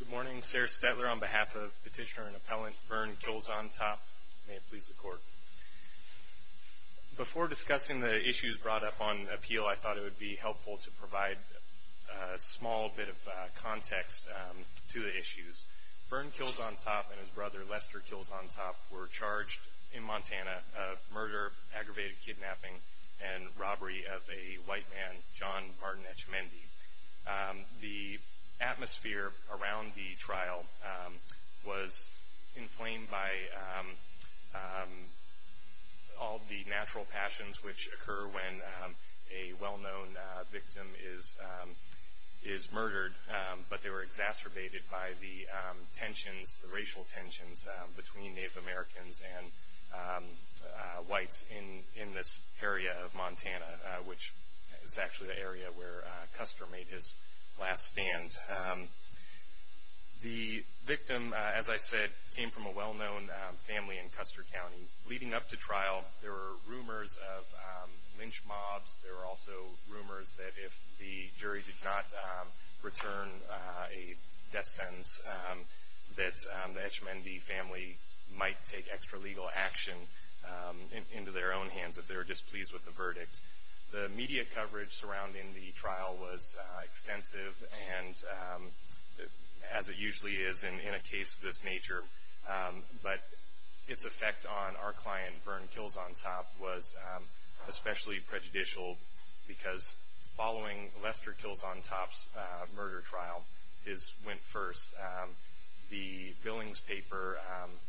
Good morning, Sarah Stetler on behalf of Petitioner and Appellant Byrne Kills On Top. May it please the Court. Before discussing the issues brought up on appeal, I thought it would be helpful to provide a small bit of context to the issues. Byrne Kills On Top and his brother Lester Kills On Top were charged in Montana of murder, aggravated kidnapping, and robbery of a white man, John Martin Etchemendy. The atmosphere around the trial was inflamed by all the natural passions which occur when a well-known victim is murdered, but they were exacerbated by the tensions, the racial tensions, between Native Americans and whites in this area of Montana, which is actually the area where Custer made his last stand. The victim, as I said, came from a well-known family in Custer County. Leading up to trial, there were rumors of lynch mobs. There were also rumors that if the jury did not return a death sentence, that the Etchemendy family might take extra-legal action into their own hands if they were displeased with the verdict. The media coverage surrounding the trial was extensive, as it usually is in a case of this nature, but its effect on our client, Byrne Kills On Top, was especially prejudicial because following Lester Kills On Top's murder trial, his went first, the Billings paper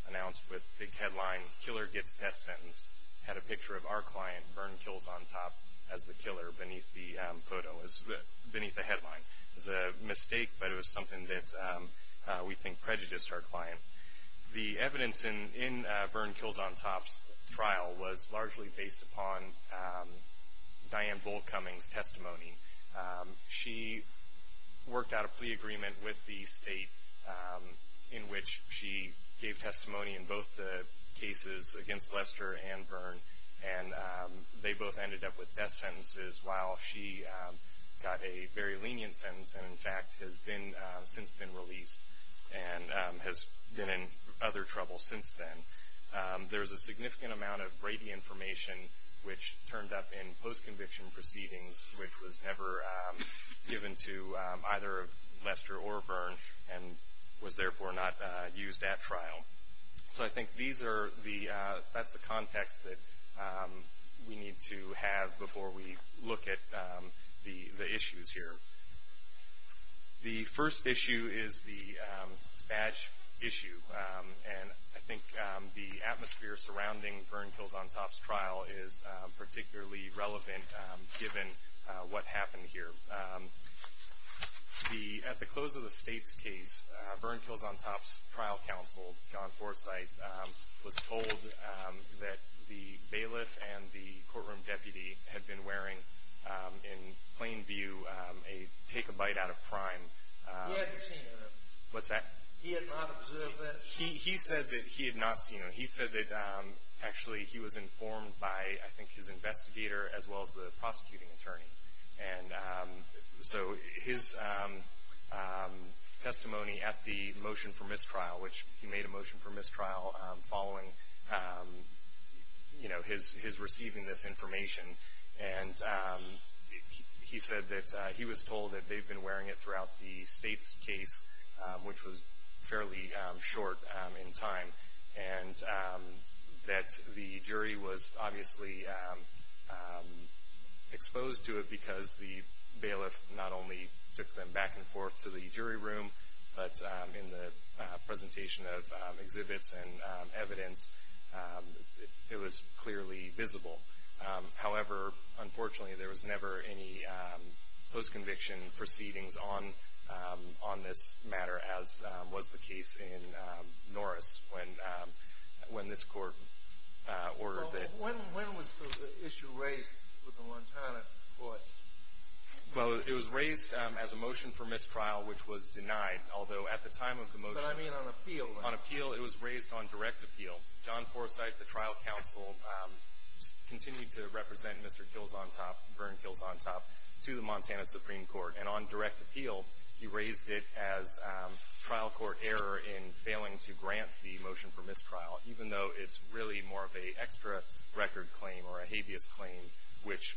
announced with big headline, Killer Gets Death Sentence, had a picture of our client, Byrne Kills On Top, as the killer beneath the photo, beneath the headline. It was a mistake, but it was something that we think prejudiced our client. The case was largely based upon Diane Bull Cummings' testimony. She worked out a plea agreement with the state in which she gave testimony in both the cases against Lester and Byrne, and they both ended up with death sentences, while she got a very lenient sentence, and, in fact, has been, since been released, and has been in other trouble since then. There's a significant amount of Brady information, which turned up in post-conviction proceedings, which was never given to either Lester or Byrne, and was, therefore, not used at trial. So I think these are the, that's the context that we need to have before we look at the issues here. The first issue is the badge issue, and I think the atmosphere surrounding Byrne Kills On Top's trial is particularly relevant, given what happened here. The, at the close of the state's case, Byrne Kills On Top's trial counsel, John Forsythe, was told that the bailiff and the courtroom deputy had been wearing, in plain view, a take-a-bite-out-of-crime. He had not seen it. What's that? He had not observed it. He said that he had not seen it. He said that, actually, he was informed by, I think, his investigator, as well as the prosecuting attorney. And so his testimony at the motion for mistrial, which he made a motion for mistrial following, you know, his receiving this information. And he said that he was told that they'd been wearing it throughout the state's case, which was fairly short in time, and that the jury was obviously exposed to it because the bailiff not only took them back and forth to the jury room, but in the presentation of exhibits and evidence, it was clearly visible. However, unfortunately, there was never any post-conviction proceedings on this matter, as was the case in Norris, when this court ordered that. When was the issue raised with the Montana court? Well, it was raised as a motion for mistrial, which was denied. Although, at the time of the motion... But I mean on appeal. On appeal, it was raised on direct appeal. John Forsythe, the trial counsel, continued to represent Mr. Kilzontop, Vern Kilzontop, to the Montana Supreme Court. And on direct appeal, he raised it as trial court error in failing to grant the motion for mistrial, even though it's really more of a extra-record claim or a habeas claim, which,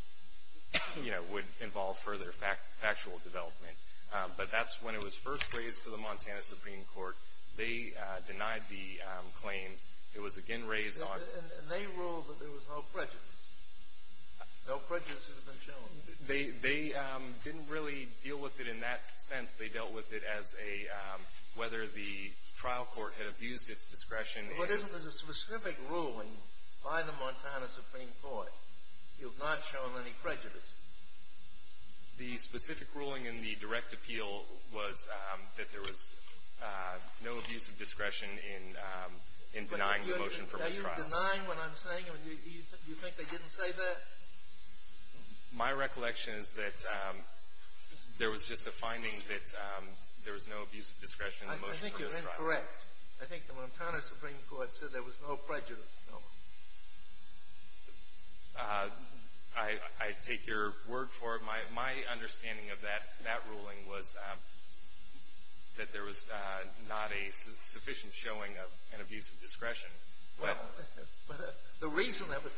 you know, would involve further factual development. But that's when it was first raised to the Montana Supreme Court. They denied the claim. It was again raised on... And they ruled that there was no prejudice. No prejudice has been shown. They didn't really deal with it in that sense. They dealt with it as a whether the trial court had abused its discretion... But isn't there a specific ruling by the Montana Supreme Court, you've not shown any prejudice? The specific ruling in the direct appeal was that there was no abuse of discretion in denying the motion for mistrial. Are you denying what I'm saying? Do you think they didn't say that? My recollection is that there was just a finding that there was no abuse of discretion in the motion for mistrial. I think you're incorrect. I think the Montana Supreme Court said there was no prejudice. I take your word for it. My understanding of that ruling was that there was not a sufficient showing of an abuse of discretion. Well, the reason that was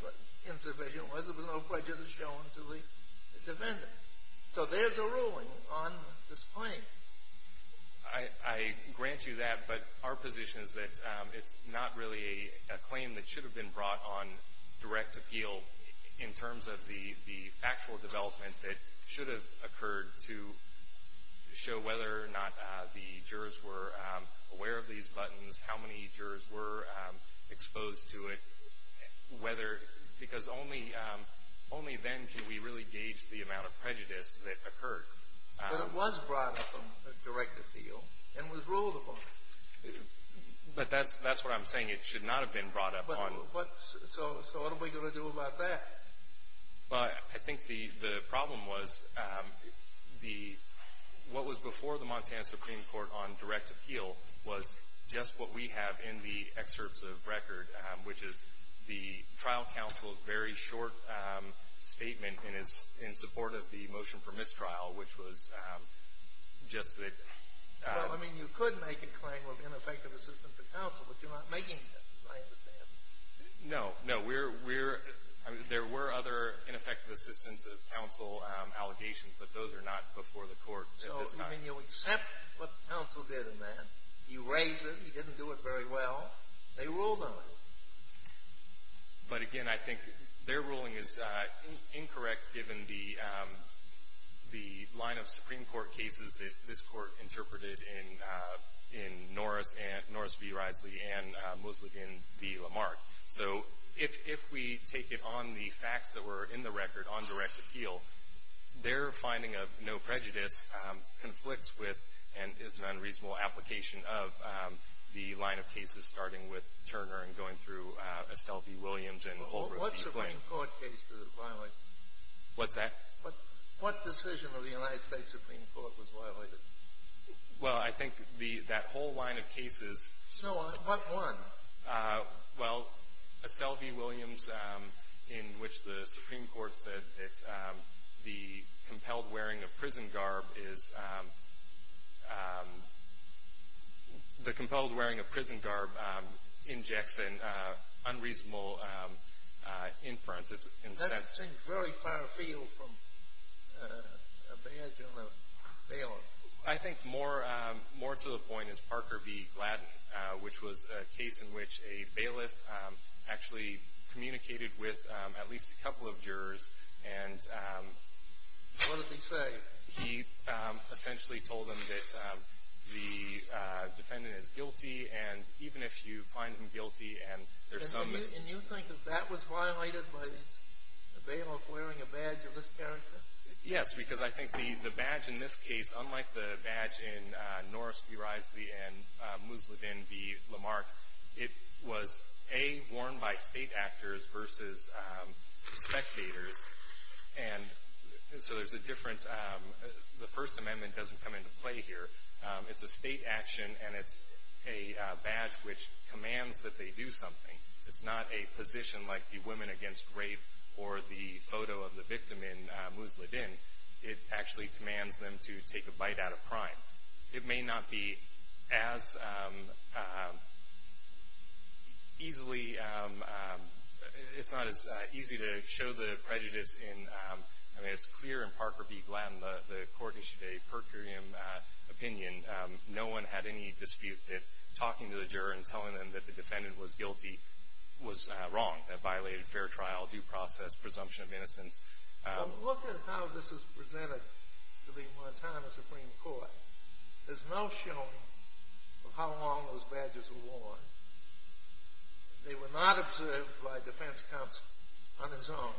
insufficient was there was no prejudice shown to the defendant. So there's a ruling on this claim. I grant you that, but our position is that it's not really a claim that should have been brought on direct appeal in terms of the factual development that should have occurred to show whether or not the jurors were aware of these buttons, how many jurors were exposed to it, whether... Because only then can we really gauge the amount of prejudice that occurred. But it was brought up on direct appeal and was ruled upon. But that's what I'm saying. It should not have been brought up on... So what are we going to do about that? Well, I think the problem was what was before the Montana Supreme Court on direct appeal was just what we have in the excerpts of record, which is the trial counsel's very short statement in support of the motion for mistrial, which was just that... Well, I mean, you could make a claim of ineffective assistance to counsel, but you're not making that, as I understand. No, no. We're... I mean, there were other ineffective assistance of counsel allegations, but those are not before the court at this time. So, I mean, you accept what the counsel did in that. He raised it. He didn't do it very well. They ruled on it. But, again, I think their ruling is incorrect, given the line of Supreme Court cases that this court interpreted in Norris v. Risely and Mosley v. Lamarck. So if we take it on the facts that were in the record on direct appeal, their finding of no prejudice conflicts with and is an unreasonable application of the line of cases starting with Turner and going through Estelle v. Williams and Holbrook v. McClain. What Supreme Court case was violated? What's that? What decision of the United States Supreme Court was violated? Well, I think that whole line of cases... So what one? Well, Estelle v. Williams, in which the Supreme Court said that the compelled wearing of prison garb is... the compelled wearing of prison garb injects an unreasonable inference. That seems very far afield from a badge on a bailiff. I think more to the point is Parker v. Gladden, which was a case in which a bailiff actually communicated with at least a couple of jurors and... What did they say? He essentially told them that the defendant is guilty, and even if you find him guilty and there's some... And you think that that was violated by the bailiff wearing a badge of this character? Yes, because I think the badge in this case, unlike the badge in Norris v. Risley and Musladin v. Lamarck, it was, A, worn by state actors versus spectators. And so there's a different... The First Amendment doesn't come into play here. It's a state action, and it's a badge which commands that they do something. It's not a position like the women against rape or the photo of the victim in Musladin. It actually commands them to take a bite out of crime. It may not be as easily... It's not as easy to show the prejudice in... I mean, it's clear in Parker v. Gladden, the court issued a per curiam opinion. No one had any dispute that talking to the juror and telling them that the defendant was guilty was wrong. That violated fair trial, due process, presumption of innocence. Look at how this is presented to the Montana Supreme Court. There's no showing of how long those badges were worn. They were not observed by defense counsel on his own.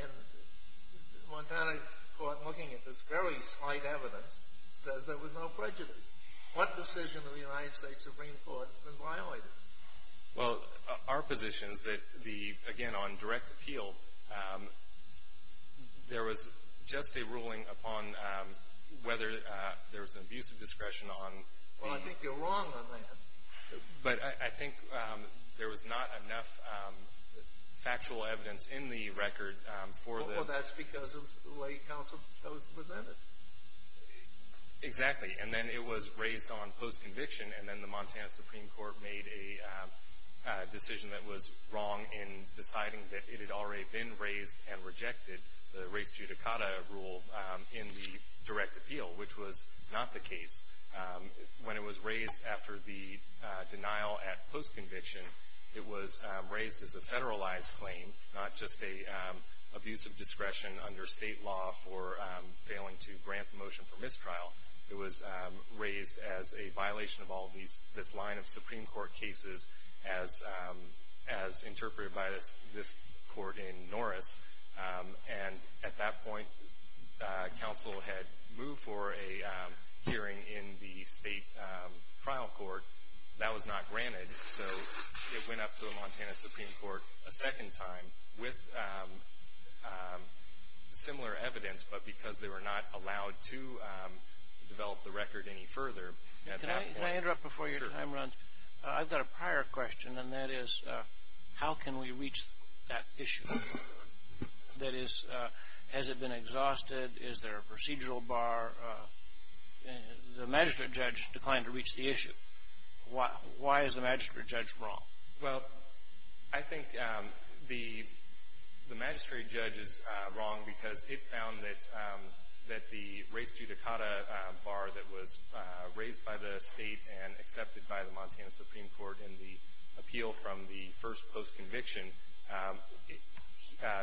And the Montana court, looking at this very slight evidence, says there was no prejudice. What decision of the United States Supreme Court has been violated? Well, our position is that the... Again, on direct appeal, there was just a ruling upon whether there was an abuse of discretion on... Well, I think you're wrong on that. But I think there was not enough factual evidence in the record for the... Well, that's because of the way counsel presented it. Exactly. And then it was raised on post-conviction, and then the Montana Supreme Court made a decision that was wrong in deciding that it had already been raised and rejected the res judicata rule in the direct appeal, which was not the case. When it was raised after the denial at post-conviction, it was raised as a federalized claim, not just an abuse of discretion under state law for failing to grant the motion for mistrial. It was raised as a violation of all this line of Supreme Court cases, as interpreted by this court in Norris. And at that point, counsel had moved for a hearing in the state trial court. That was not granted, so it went up to the Montana Supreme Court a second time with similar evidence, but because they were not allowed to develop the record any further. Can I interrupt before your time runs? Sure. I've got a prior question, and that is, how can we reach that issue? That is, has it been exhausted? Is there a procedural bar? The magistrate judge declined to reach the issue. Why is the magistrate judge wrong? Well, I think the magistrate judge is wrong because it found that the res judicata bar that was raised by the state and accepted by the Montana Supreme Court in the appeal from the first post-conviction,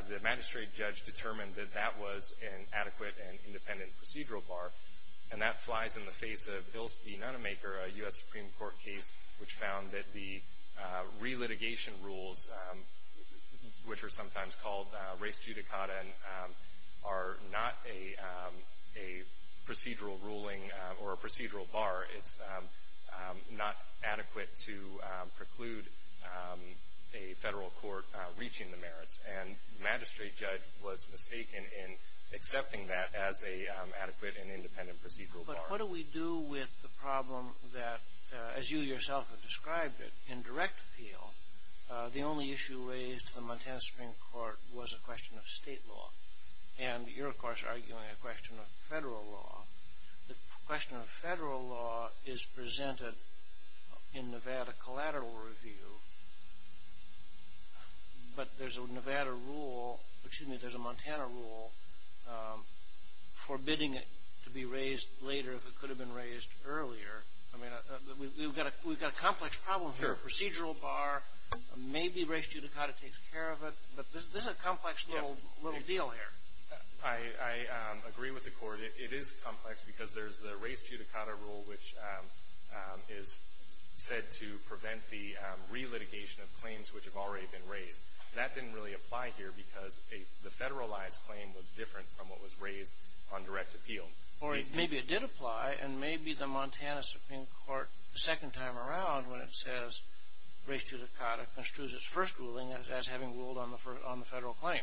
the magistrate judge determined that that was an adequate and independent procedural bar. And that flies in the face of Bills v. Nonemaker, a U.S. Supreme Court case, which found that the re-litigation rules, which are sometimes called res judicata, are not a procedural ruling or a procedural bar. It's not adequate to preclude a federal court reaching the merits. And the magistrate judge was mistaken in accepting that as an adequate and independent procedural bar. But what do we do with the problem that, as you yourself have described it, in direct appeal, the only issue raised to the Montana Supreme Court was a question of state law? And you're, of course, arguing a question of federal law. The question of federal law is presented in Nevada collateral review, but there's a Montana rule forbidding it to be raised later if it could have been raised earlier. I mean, we've got a complex problem here. Procedural bar, maybe res judicata takes care of it, but this is a complex little deal here. I agree with the Court. It is complex because there's the res judicata rule, which is said to prevent the re-litigation of claims which have already been raised. That didn't really apply here because the federalized claim was different from what was raised on direct appeal. Or maybe it did apply, and maybe the Montana Supreme Court, the second time around, when it says res judicata construes its first ruling as having ruled on the federal claim.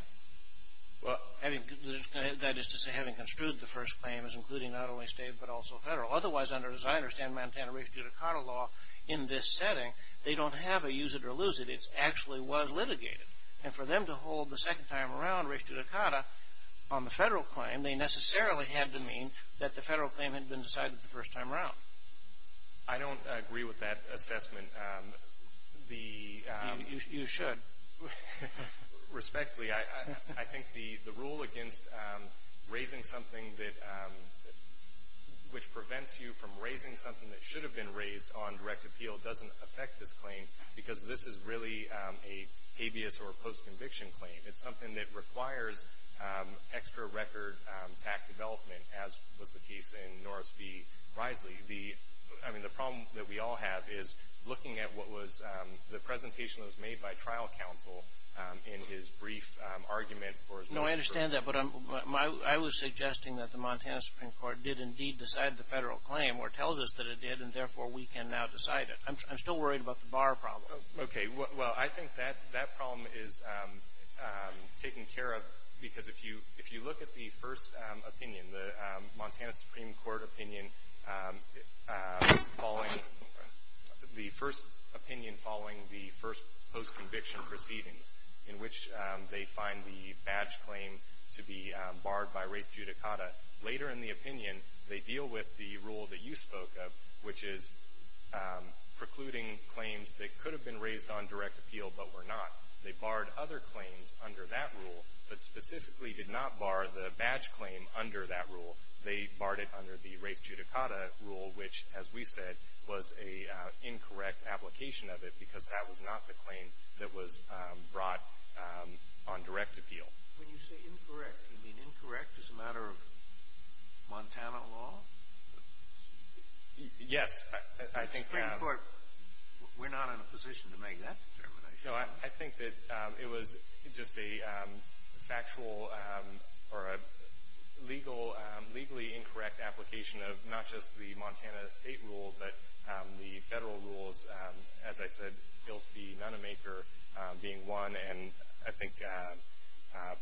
That is to say, having construed the first claim as including not only state but also federal. Otherwise, as I understand Montana res judicata law in this setting, they don't have a use it or lose it. It actually was litigated. And for them to hold the second time around res judicata on the federal claim, they necessarily had to mean that the federal claim had been decided the first time around. I don't agree with that assessment. You should. Respectfully, I think the rule against raising something which prevents you from raising something that should have been raised on direct appeal doesn't affect this claim because this is really an habeas or post-conviction claim. It's something that requires extra record back development, as was the case in Norris v. Risely. I mean, the problem that we all have is looking at what was the presentation that was made by trial counsel in his brief argument for his motion. No, I understand that. But I was suggesting that the Montana Supreme Court did indeed decide the federal claim or tells us that it did, and therefore we can now decide it. I'm still worried about the bar problem. Okay. Well, I think that problem is taken care of because if you look at the first opinion, the Montana Supreme Court opinion following the first opinion following the first post-conviction proceedings in which they find the badge claim to be barred by res judicata, later in the opinion they deal with the rule that you spoke of, which is precluding claims that could have been raised on direct appeal but were not. They barred other claims under that rule, but specifically did not bar the badge claim under that rule. They barred it under the res judicata rule, which, as we said, was an incorrect application of it because that was not the claim that was brought on direct appeal. When you say incorrect, you mean incorrect as a matter of Montana law? Yes. The Supreme Court, we're not in a position to make that determination. No, I think that it was just a factual or a legally incorrect application of not just the Montana state rule but the federal rules, as I said, Gilfie Nunnemaker being one, and I think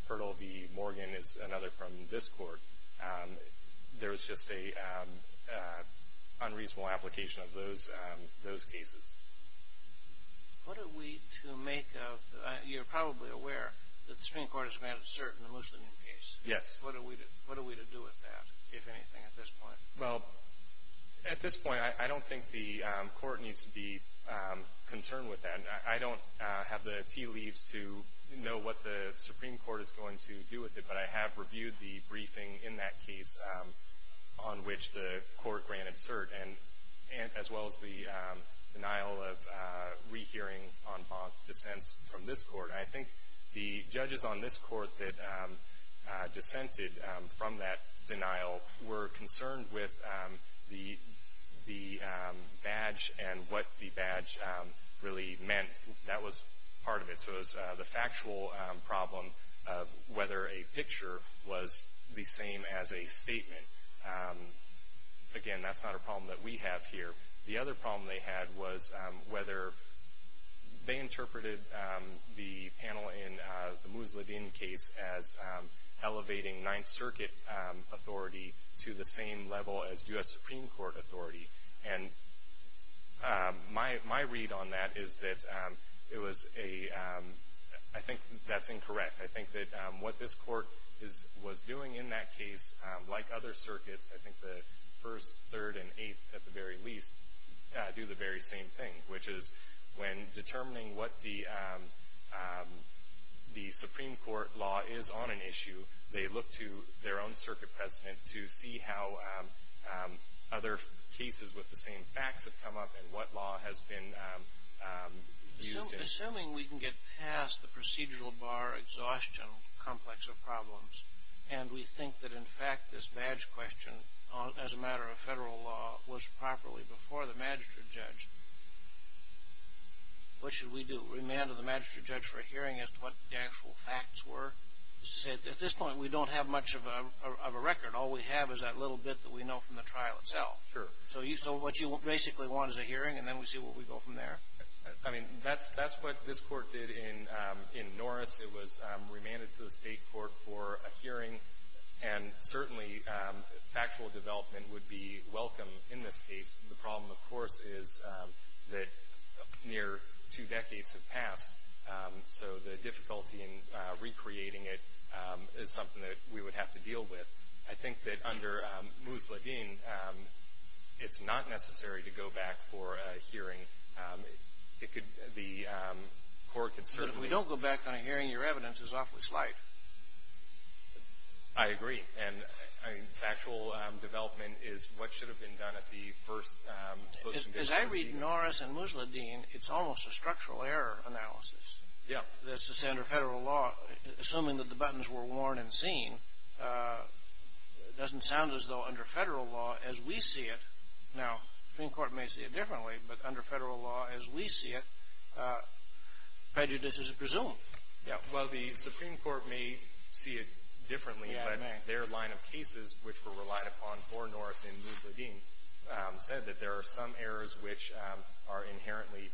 Pertle v. Morgan is another from this court. There was just an unreasonable application of those cases. What are we to make of, you're probably aware that the Supreme Court has made a certain Muslim case. Yes. What are we to do with that, if anything, at this point? Well, at this point, I don't think the court needs to be concerned with that. I don't have the tea leaves to know what the Supreme Court is going to do with it, but I have reviewed the briefing in that case on which the court granted cert as well as the denial of rehearing on bond dissents from this court. I think the judges on this court that dissented from that denial were concerned with the badge and what the badge really meant. That was part of it. Part of this was the factual problem of whether a picture was the same as a statement. Again, that's not a problem that we have here. The other problem they had was whether they interpreted the panel in the Musaladin case as elevating Ninth Circuit authority to the same level as U.S. Supreme Court authority. And my read on that is that it was a — I think that's incorrect. I think that what this court was doing in that case, like other circuits, I think the First, Third, and Eighth, at the very least, do the very same thing, which is when determining what the Supreme Court law is on an issue, they look to their own circuit president to see how other cases with the same facts have come up and what law has been used in it. Assuming we can get past the procedural bar exhaustion complex of problems and we think that, in fact, this badge question, as a matter of federal law, was properly before the magistrate judge, what should we do? Remand to the magistrate judge for a hearing as to what the actual facts were? At this point, we don't have much of a record. All we have is that little bit that we know from the trial itself. Sure. So what you basically want is a hearing, and then we see where we go from there. I mean, that's what this court did in Norris. It was remanded to the state court for a hearing, and certainly factual development would be welcome in this case. The problem, of course, is that near two decades have passed, so the difficulty in recreating it is something that we would have to deal with. I think that under Musladeen, it's not necessary to go back for a hearing. It could be a core concern. So if we don't go back on a hearing, your evidence is awfully slight. I agree. And factual development is what should have been done at the first motion. As I read Norris and Musladeen, it's almost a structural error analysis. This is under federal law. Assuming that the buttons were worn and seen, it doesn't sound as though under federal law, as we see it. Now, the Supreme Court may see it differently, but under federal law, as we see it, prejudice is presumed. Well, the Supreme Court may see it differently, but their line of cases, which were relied upon for Norris and Musladeen, said that there are some errors which are inherently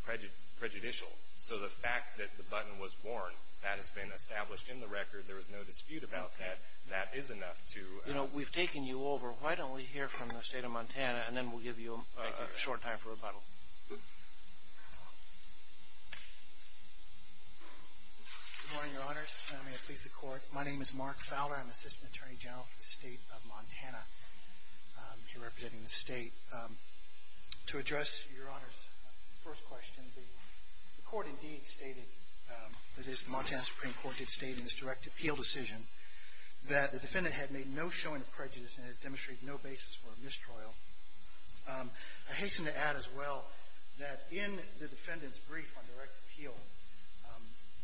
prejudicial. So the fact that the button was worn, that has been established in the record. There is no dispute about that. That is enough to – You know, we've taken you over. Why don't we hear from the State of Montana, and then we'll give you a short time for rebuttal. Good morning, Your Honors. May it please the Court. My name is Mark Fowler. I'm Assistant Attorney General for the State of Montana. I'm here representing the State. To address Your Honors' first question, the Court indeed stated, that is the Montana Supreme Court did state in its direct appeal decision, that the defendant had made no showing of prejudice and had demonstrated no basis for mistrial. I hasten to add as well that in the defendant's brief on direct appeal,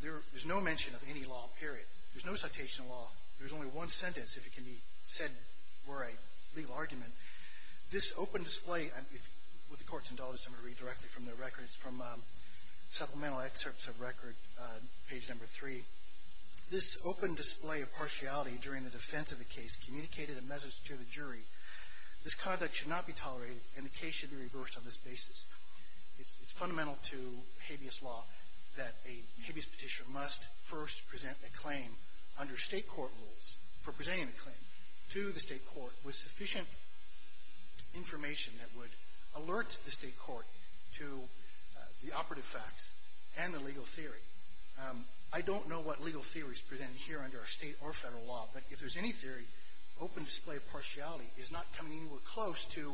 there is no mention of any law, period. There's no citation of law. There's only one sentence, if it can be said were a legal argument. This open display – with the Court's indulgence, I'm going to read directly from the record. It's from Supplemental Excerpts of Record, page number three. This open display of partiality during the defense of the case communicated a message to the jury. This conduct should not be tolerated, and the case should be reversed on this basis. It's fundamental to habeas law that a habeas petitioner must first present a claim under state court rules for presenting a claim to the state court with sufficient information that would alert the state court to the operative facts and the legal theory. I don't know what legal theory is presented here under our state or federal law, but if there's any theory, open display of partiality is not coming anywhere close to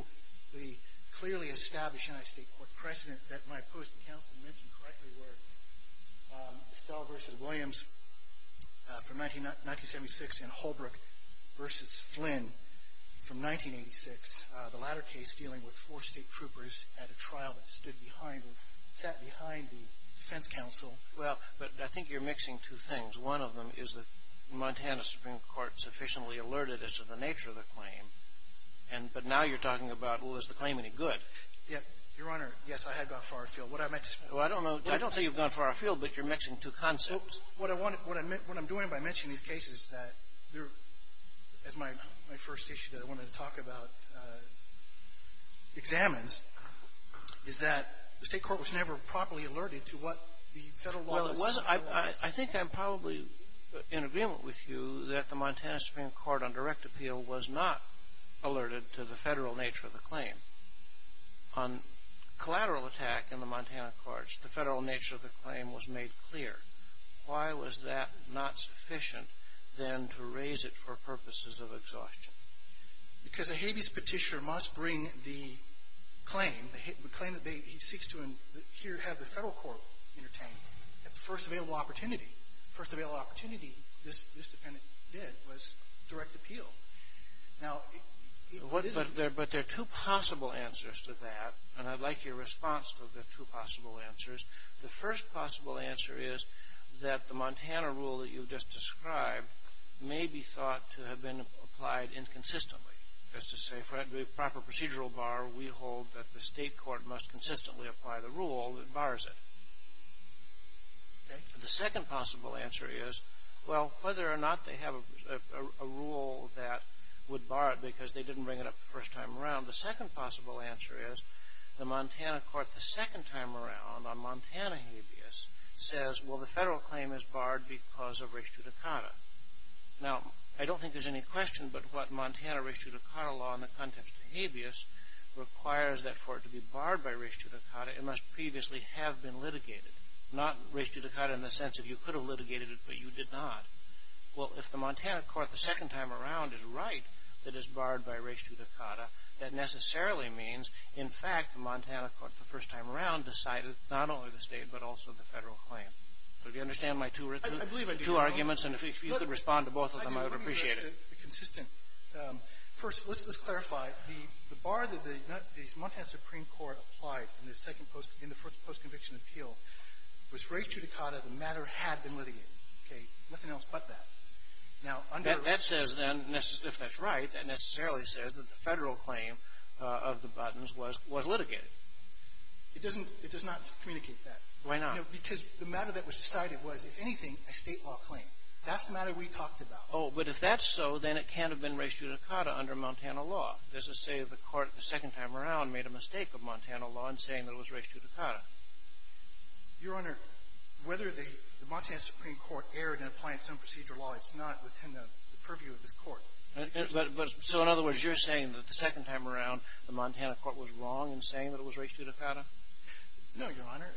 the clearly established anti-state court precedent that my post and counsel mentioned correctly were Estella v. Williams from 1976 and Holbrook v. Flynn from 1986, the latter case dealing with four state troopers at a trial that stood behind or sat behind the defense counsel. Well, but I think you're mixing two things. One of them is that Montana Supreme Court sufficiently alerted us to the nature of the claim, but now you're talking about, well, is the claim any good? Yes, Your Honor. Yes, I had gone far afield. What I meant to say is that the state court was never properly alerted to what the federal law was saying. Well, it wasn't. I think I'm probably in agreement with you that the Montana Supreme Court on direct appeal was not alerted to the federal nature of the claim. On collateral attack in the Montana courts, the federal nature of the claim was made clear. Why was that not sufficient then to raise it for purposes of exhaustion? Because a habeas petitioner must bring the claim, the claim that he seeks to have the federal court entertain at the first available opportunity. The first available opportunity this defendant did was direct appeal. But there are two possible answers to that, and I'd like your response to the two possible answers. The first possible answer is that the Montana rule that you've just described may be thought to have been applied inconsistently, as to say for a proper procedural bar, we hold that the state court must consistently apply the rule that bars it. The second possible answer is, well, whether or not they have a rule that would bar it because they didn't bring it up the first time around. The second possible answer is the Montana court the second time around on Montana habeas says, well, the federal claim is barred because of res judicata. Now, I don't think there's any question but what Montana res judicata law in the context of habeas requires that for it to be barred by res judicata, it must previously have been litigated. Not res judicata in the sense of you could have litigated it, but you did not. Well, if the Montana court the second time around is right that it's barred by res judicata, that necessarily means, in fact, the Montana court the first time around decided not only the state but also the federal claim. Do you understand my two arguments? I believe I do, Your Honor. And if you could respond to both of them, I would appreciate it. I do think they're consistent. First, let's clarify. The bar that the Montana Supreme Court applied in the first post-conviction appeal was res judicata, the matter had been litigated. Nothing else but that. That says then, if that's right, that necessarily says that the federal claim of the buttons was litigated. It does not communicate that. Why not? Because the matter that was decided was, if anything, a state law claim. That's the matter we talked about. Oh, but if that's so, then it can't have been res judicata under Montana law. It doesn't say that the court the second time around made a mistake of Montana law in saying that it was res judicata. Your Honor, whether the Montana Supreme Court erred in applying some procedure law, it's not within the purview of this Court. So, in other words, you're saying that the second time around, the Montana court was wrong in saying that it was res judicata? No, Your Honor.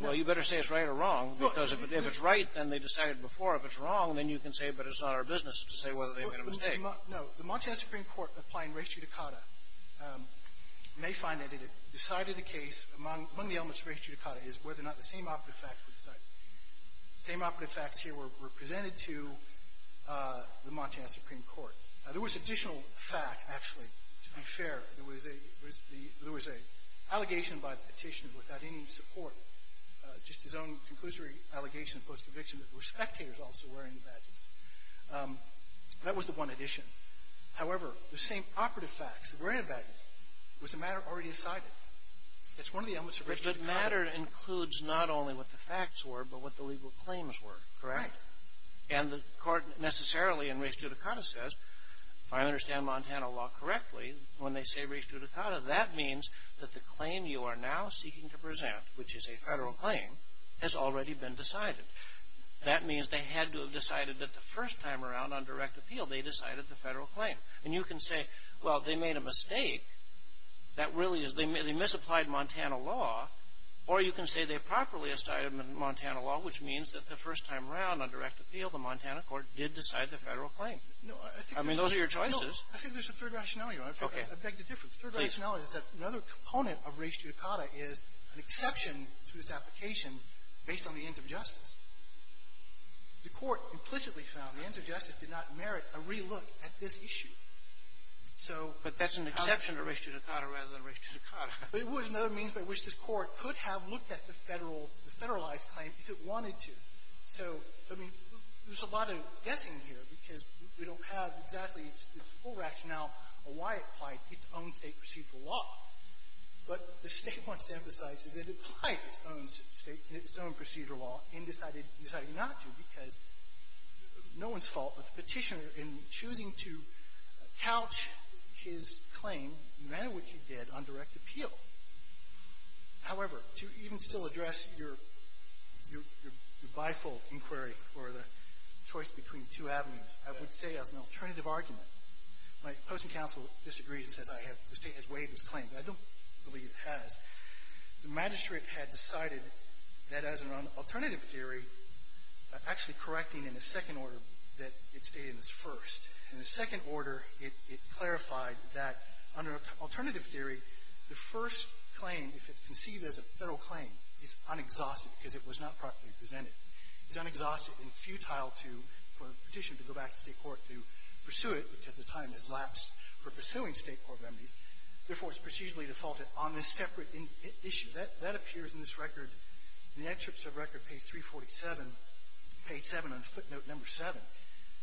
Well, you better say it's right or wrong. Because if it's right, then they decided before. If it's wrong, then you can say, but it's not our business to say whether they made a mistake. No. The Montana Supreme Court applying res judicata may find that it decided a case among the elements of res judicata is whether or not the same operative facts were decided. The same operative facts here were presented to the Montana Supreme Court. There was additional fact, actually, to be fair. There was a allegation by the petitioner without any support, just his own conclusory allegation post-conviction that there were spectators also wearing badges. That was the one addition. However, the same operative facts, wearing badges, was the matter already decided. It's one of the elements of res judicata. But the matter includes not only what the facts were, but what the legal claims were, correct? Right. And the Court necessarily in res judicata says, if I understand Montana law correctly, when they say res judicata, that means that the claim you are now seeking to present, which is a federal claim, has already been decided. That means they had to have decided that the first time around on direct appeal, they decided the federal claim. And you can say, well, they made a mistake. That really is, they misapplied Montana law. Or you can say they properly decided Montana law, which means that the first time around on direct appeal, the Montana Court did decide the federal claim. I mean, those are your choices. No. I think there's a third rationality. Okay. I beg to differ. The third rationality is that another component of res judicata is an exception to this application based on the ends of justice. The Court implicitly found the ends of justice did not merit a relook at this issue. So how does the Court decide? But that's an exception to res judicata rather than res judicata. But it was another means by which this Court could have looked at the federal — the federalized claim if it wanted to. So, I mean, there's a lot of guessing here because we don't have exactly the full rationale of why it applied its own State procedural law. But the State wants to emphasize that it applied its own State — its own procedural law in deciding not to because no one's fault but the Petitioner in choosing to couch his claim, no matter what you did, on direct appeal. However, to even still address your — your bifold inquiry or the choice between two avenues, I would say as an alternative argument, my opposing counsel disagrees and says I have — the State has waived this claim, but I don't believe it has. The magistrate had decided that as an alternative theory, actually correcting in the second order that it stated as first. In the second order, it — it clarified that under alternative theory, the first claim, if it's conceived as a federal claim, is unexhausted because it was not properly presented. It's unexhausted and futile to — for a Petitioner to go back to State court to pursue it because the time has lapsed for pursuing State court remedies. Therefore, it's procedurally defaulted on this separate issue. That — that appears in this record, in the excerpts of record page 347, page 7 on footnote number 7.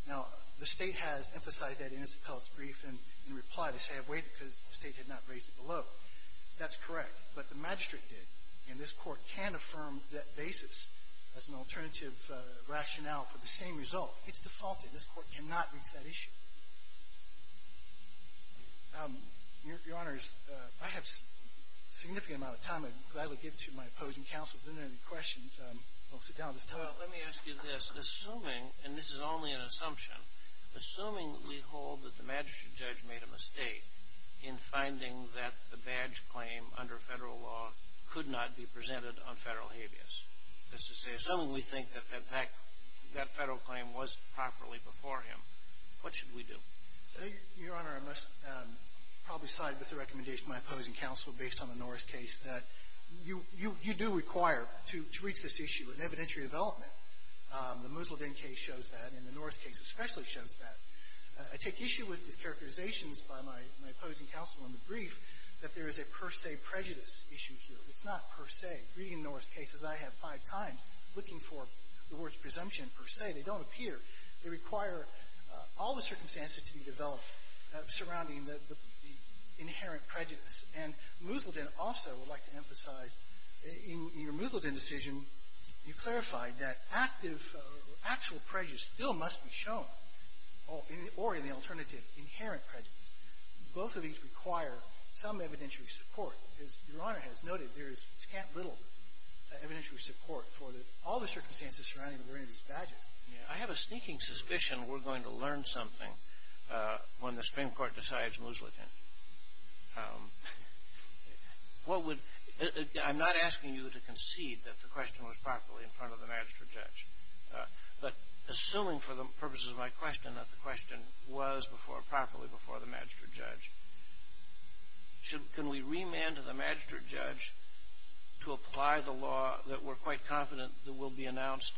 Now, the State has emphasized that in its appellate brief and — and replied to say I've waived it because the State had not raised it below. That's correct. But the magistrate did. And this Court can affirm that basis as an alternative rationale for the same result. It's defaulted. This Court cannot reach that issue. Your — Your Honors, I have a significant amount of time. I'd gladly give it to my opposing counsel if there isn't any questions. I'll sit down at this time. Well, let me ask you this. Assuming — and this is only an assumption — assuming we hold that the magistrate judge made a mistake in finding that the badge claim under Federal law could not be presented on Federal habeas, that's to say, assuming we think that that back — that Federal claim was properly before him, what should we do? Your Honor, I must probably side with the recommendation of my opposing counsel based on the Norris case that you — you do require to — to reach this issue in evidentiary development. The Musildin case shows that, and the Norris case especially shows that. I take issue with these characterizations by my — my opposing counsel in the brief that there is a per se prejudice issue here. It's not per se. Reading the Norris case, as I have five times, looking for the words presumption, per se, they don't appear. They require all the circumstances to be developed surrounding the — the inherent prejudice. And Musildin also would like to emphasize, in your Musildin decision, you clarified that active — actual prejudice still must be shown, or in the alternative, inherent prejudice. Both of these require some evidentiary support. As Your Honor has noted, there is scant little evidentiary support for the — all the circumstances surrounding the wearing of these badges. I have a sneaking suspicion we're going to learn something when the Supreme Court decides Musildin. What would — I'm not asking you to concede that the question was properly in front of the magistrate judge, but assuming for the purposes of my question that the question was before — properly before the magistrate judge, should — can we remand to the magistrate judge to apply the law that we're quite confident that will be announced?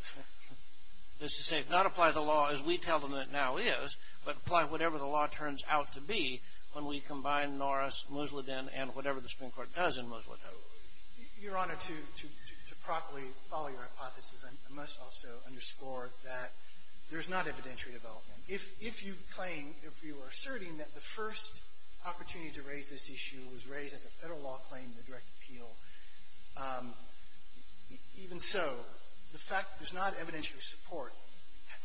That's to say, not apply the law as we tell them it now is, but apply whatever the law turns out to be when we combine Norris, Musildin, and whatever the Supreme Court does in Musildin. Your Honor, to — to properly follow your hypothesis, I must also underscore that there is not evidentiary development. If — if you claim — if you are asserting that the first opportunity to raise this issue was raised as a Federal law claim in the direct appeal, even so, the fact that there's not evidentiary support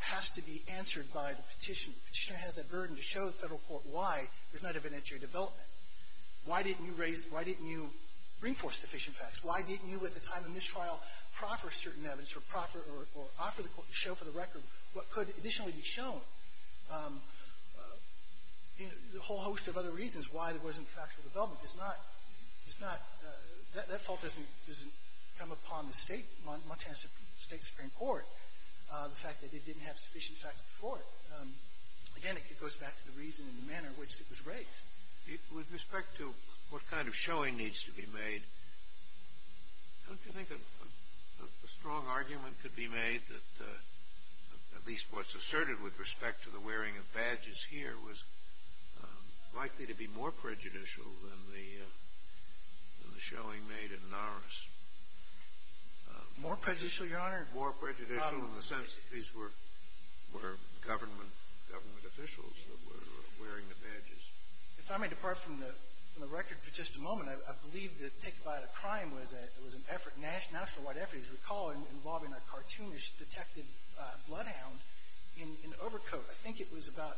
has to be answered by the petitioner. The petitioner has that burden to show the Federal court why there's not evidentiary development. Why didn't you raise — why didn't you bring forth sufficient facts? Why didn't you, at the time of mistrial, proffer certain evidence or proffer or — or offer the court to show for the record what could additionally be shown? You know, there's a whole host of other reasons why there wasn't factual development. It's not — it's not — that — that fault doesn't — doesn't come upon the State — Montana State Supreme Court, the fact that it didn't have sufficient facts before it. So, again, it goes back to the reason and the manner in which it was raised. With respect to what kind of showing needs to be made, don't you think a strong argument could be made that at least what's asserted with respect to the wearing of badges here was likely to be more prejudicial than the — than the showing made in Norris? More prejudicial, Your Honor? More prejudicial in the sense that these were — were government — government officials that were wearing the badges. If I may depart from the — from the record for just a moment, I believe that Take Goodbye to Crime was a — was an effort, national — national-wide effort, as you recall, involving a cartoonish detective bloodhound in — in overcoat. I think it was about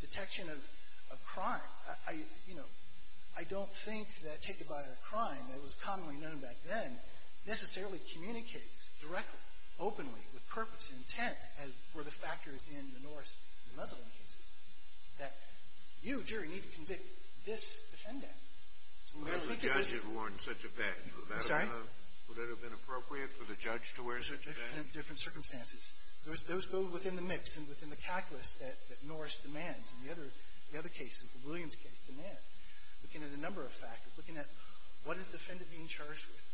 detection of — of crime. I — I, you know, I don't think that Take Goodbye to Crime, it was commonly known back then, necessarily communicates directly, openly, with purpose, intent, as were the factors in the Norris and the Muslin cases, that you, jury, need to convict this defendant. So when you look at this — Unless the judge had worn such a badge, would that have — I'm sorry? Would that have been appropriate for the judge to wear such a badge? Different — different circumstances. Those — those go within the mix and within the calculus that — that Norris demands and the other — the other cases, the Williams case demands, looking at a number of factors, looking at what is the defendant being charged with?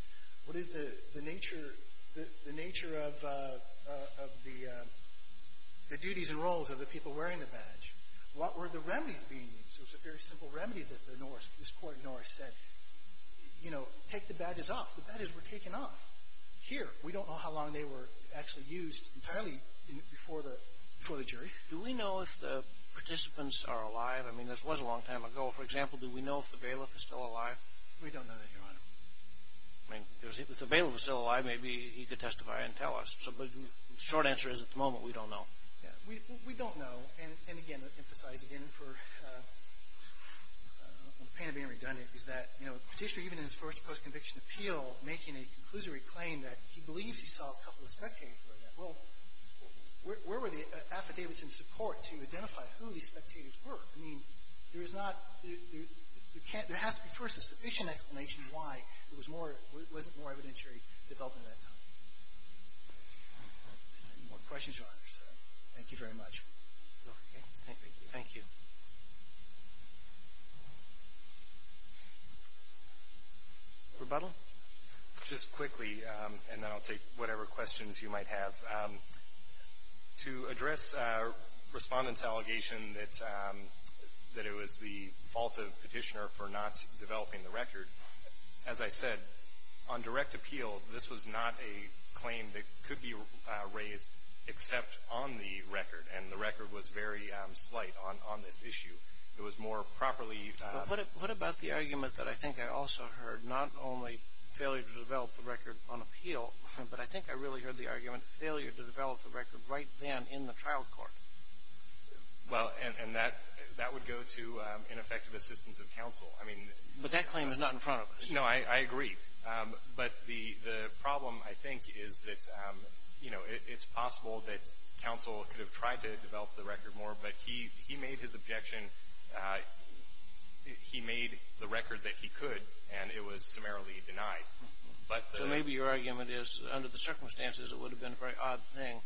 What is the — the nature — the nature of — of the duties and roles of the people wearing the badge? What were the remedies being used? It was a very simple remedy that the Norris — this court in Norris said, you know, take the badges off. The badges were taken off here. We don't know how long they were actually used entirely before the — before the jury. Do we know if the participants are alive? I mean, this was a long time ago. For example, do we know if the bailiff is still alive? We don't know that, Your Honor. I mean, if the bailiff is still alive, maybe he could testify and tell us. But the short answer is, at the moment, we don't know. Yeah. We don't know. And, again, to emphasize again for the pain of being redundant is that, you know, the Petitioner, even in his first post-conviction appeal, making a conclusory claim that he believes he saw a couple of spectators wear that. Well, where were the affidavits in support to identify who these spectators were? I mean, there is not — there can't — there has to be, first, a sufficient explanation why it was more — wasn't more evidentiary development at that time. Any more questions, Your Honor? Sorry. Thank you very much. Thank you. Rebuttal? Just quickly, and then I'll take whatever questions you might have. To address Respondent's allegation that it was the fault of Petitioner for not developing the record, as I said, on direct appeal, this was not a claim that could be raised except on the record, and the record was very slight on this issue. It was more properly — What about the argument that I think I also heard, not only failure to develop the record on appeal, but I think I really heard the argument, failure to develop the record right then in the trial court? Well, and that would go to ineffective assistance of counsel. I mean — But that claim is not in front of us. No, I agree. But the problem, I think, is that, you know, it's possible that counsel could have tried to develop the record more, but he made his objection — he made the record that he could, and it was summarily denied. So maybe your argument is, under the circumstances, it would have been a very odd thing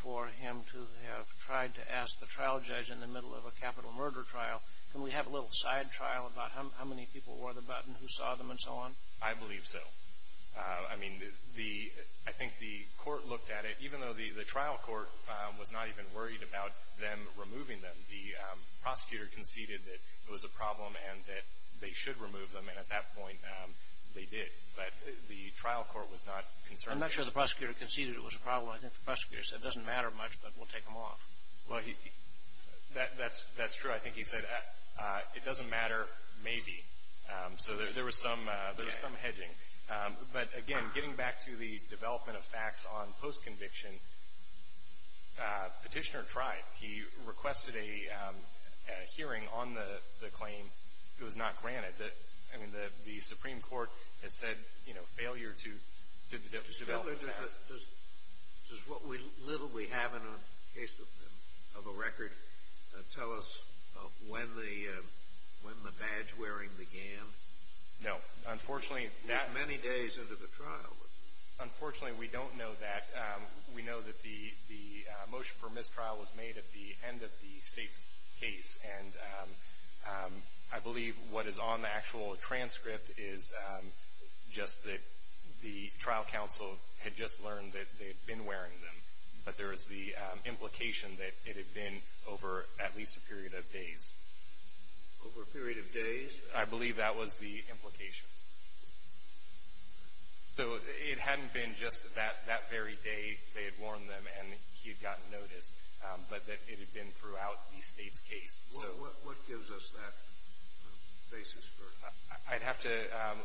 for him to have tried to ask the trial judge in the middle of a capital murder trial, can we have a little side trial about how many people wore the button, who saw them, and so on? I believe so. I mean, I think the court looked at it, even though the trial court was not even worried about them removing them. The prosecutor conceded that it was a problem and that they should remove them, and at that point they did. But the trial court was not concerned. I'm not sure the prosecutor conceded it was a problem. I think the prosecutor said, it doesn't matter much, but we'll take them off. Well, that's true. I think he said, it doesn't matter, maybe. So there was some hedging. But, again, getting back to the development of facts on post-conviction, Petitioner tried. He requested a hearing on the claim. It was not granted. I mean, the Supreme Court has said, you know, failure to develop the facts. Does what little we have in the case of a record tell us when the badge wearing began? No. It was many days into the trial. Unfortunately, we don't know that. We know that the motion for mistrial was made at the end of the state's case. And I believe what is on the actual transcript is just that the trial counsel had just learned that they had been wearing them. But there is the implication that it had been over at least a period of days. Over a period of days? I believe that was the implication. So it hadn't been just that very day they had worn them and he had gotten notice, but that it had been throughout the state's case. What gives us that basis for it? I'd have to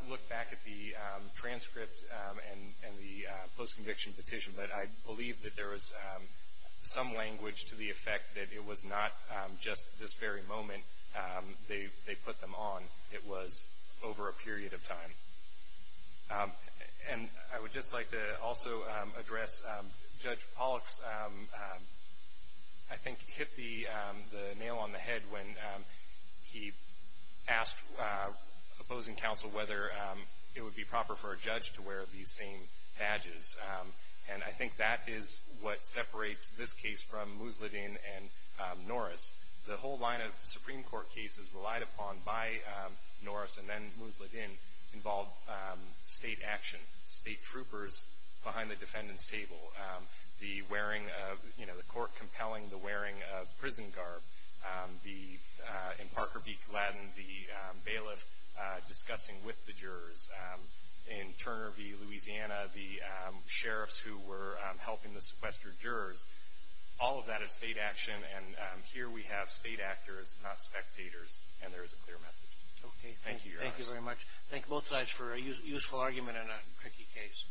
look back at the transcript and the post-conviction petition, but I believe that there was some language to the effect that it was not just this very moment they put them on. It was over a period of time. And I would just like to also address Judge Pollack's, I think, hit the nail on the head when he asked opposing counsel whether it would be proper for a judge to wear these same badges. And I think that is what separates this case from Museldin and Norris. The whole line of Supreme Court cases relied upon by Norris and then Museldin involved state action, state troopers behind the defendant's table, the wearing of, you know, the court compelling, the wearing of prison garb, the, in Parker v. Gladden, the bailiff discussing with the jurors. In Turner v. Louisiana, the sheriffs who were helping the sequestered jurors, all of that is state action. And here we have state actors, not spectators, and there is a clear message. Okay. Thank you, Your Honor. Thank you very much. Thank both sides for a useful argument in a tricky case.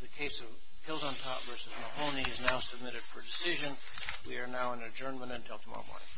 The case of Hills on Top v. Mahoney is now submitted for decision. We are now in adjournment until tomorrow morning.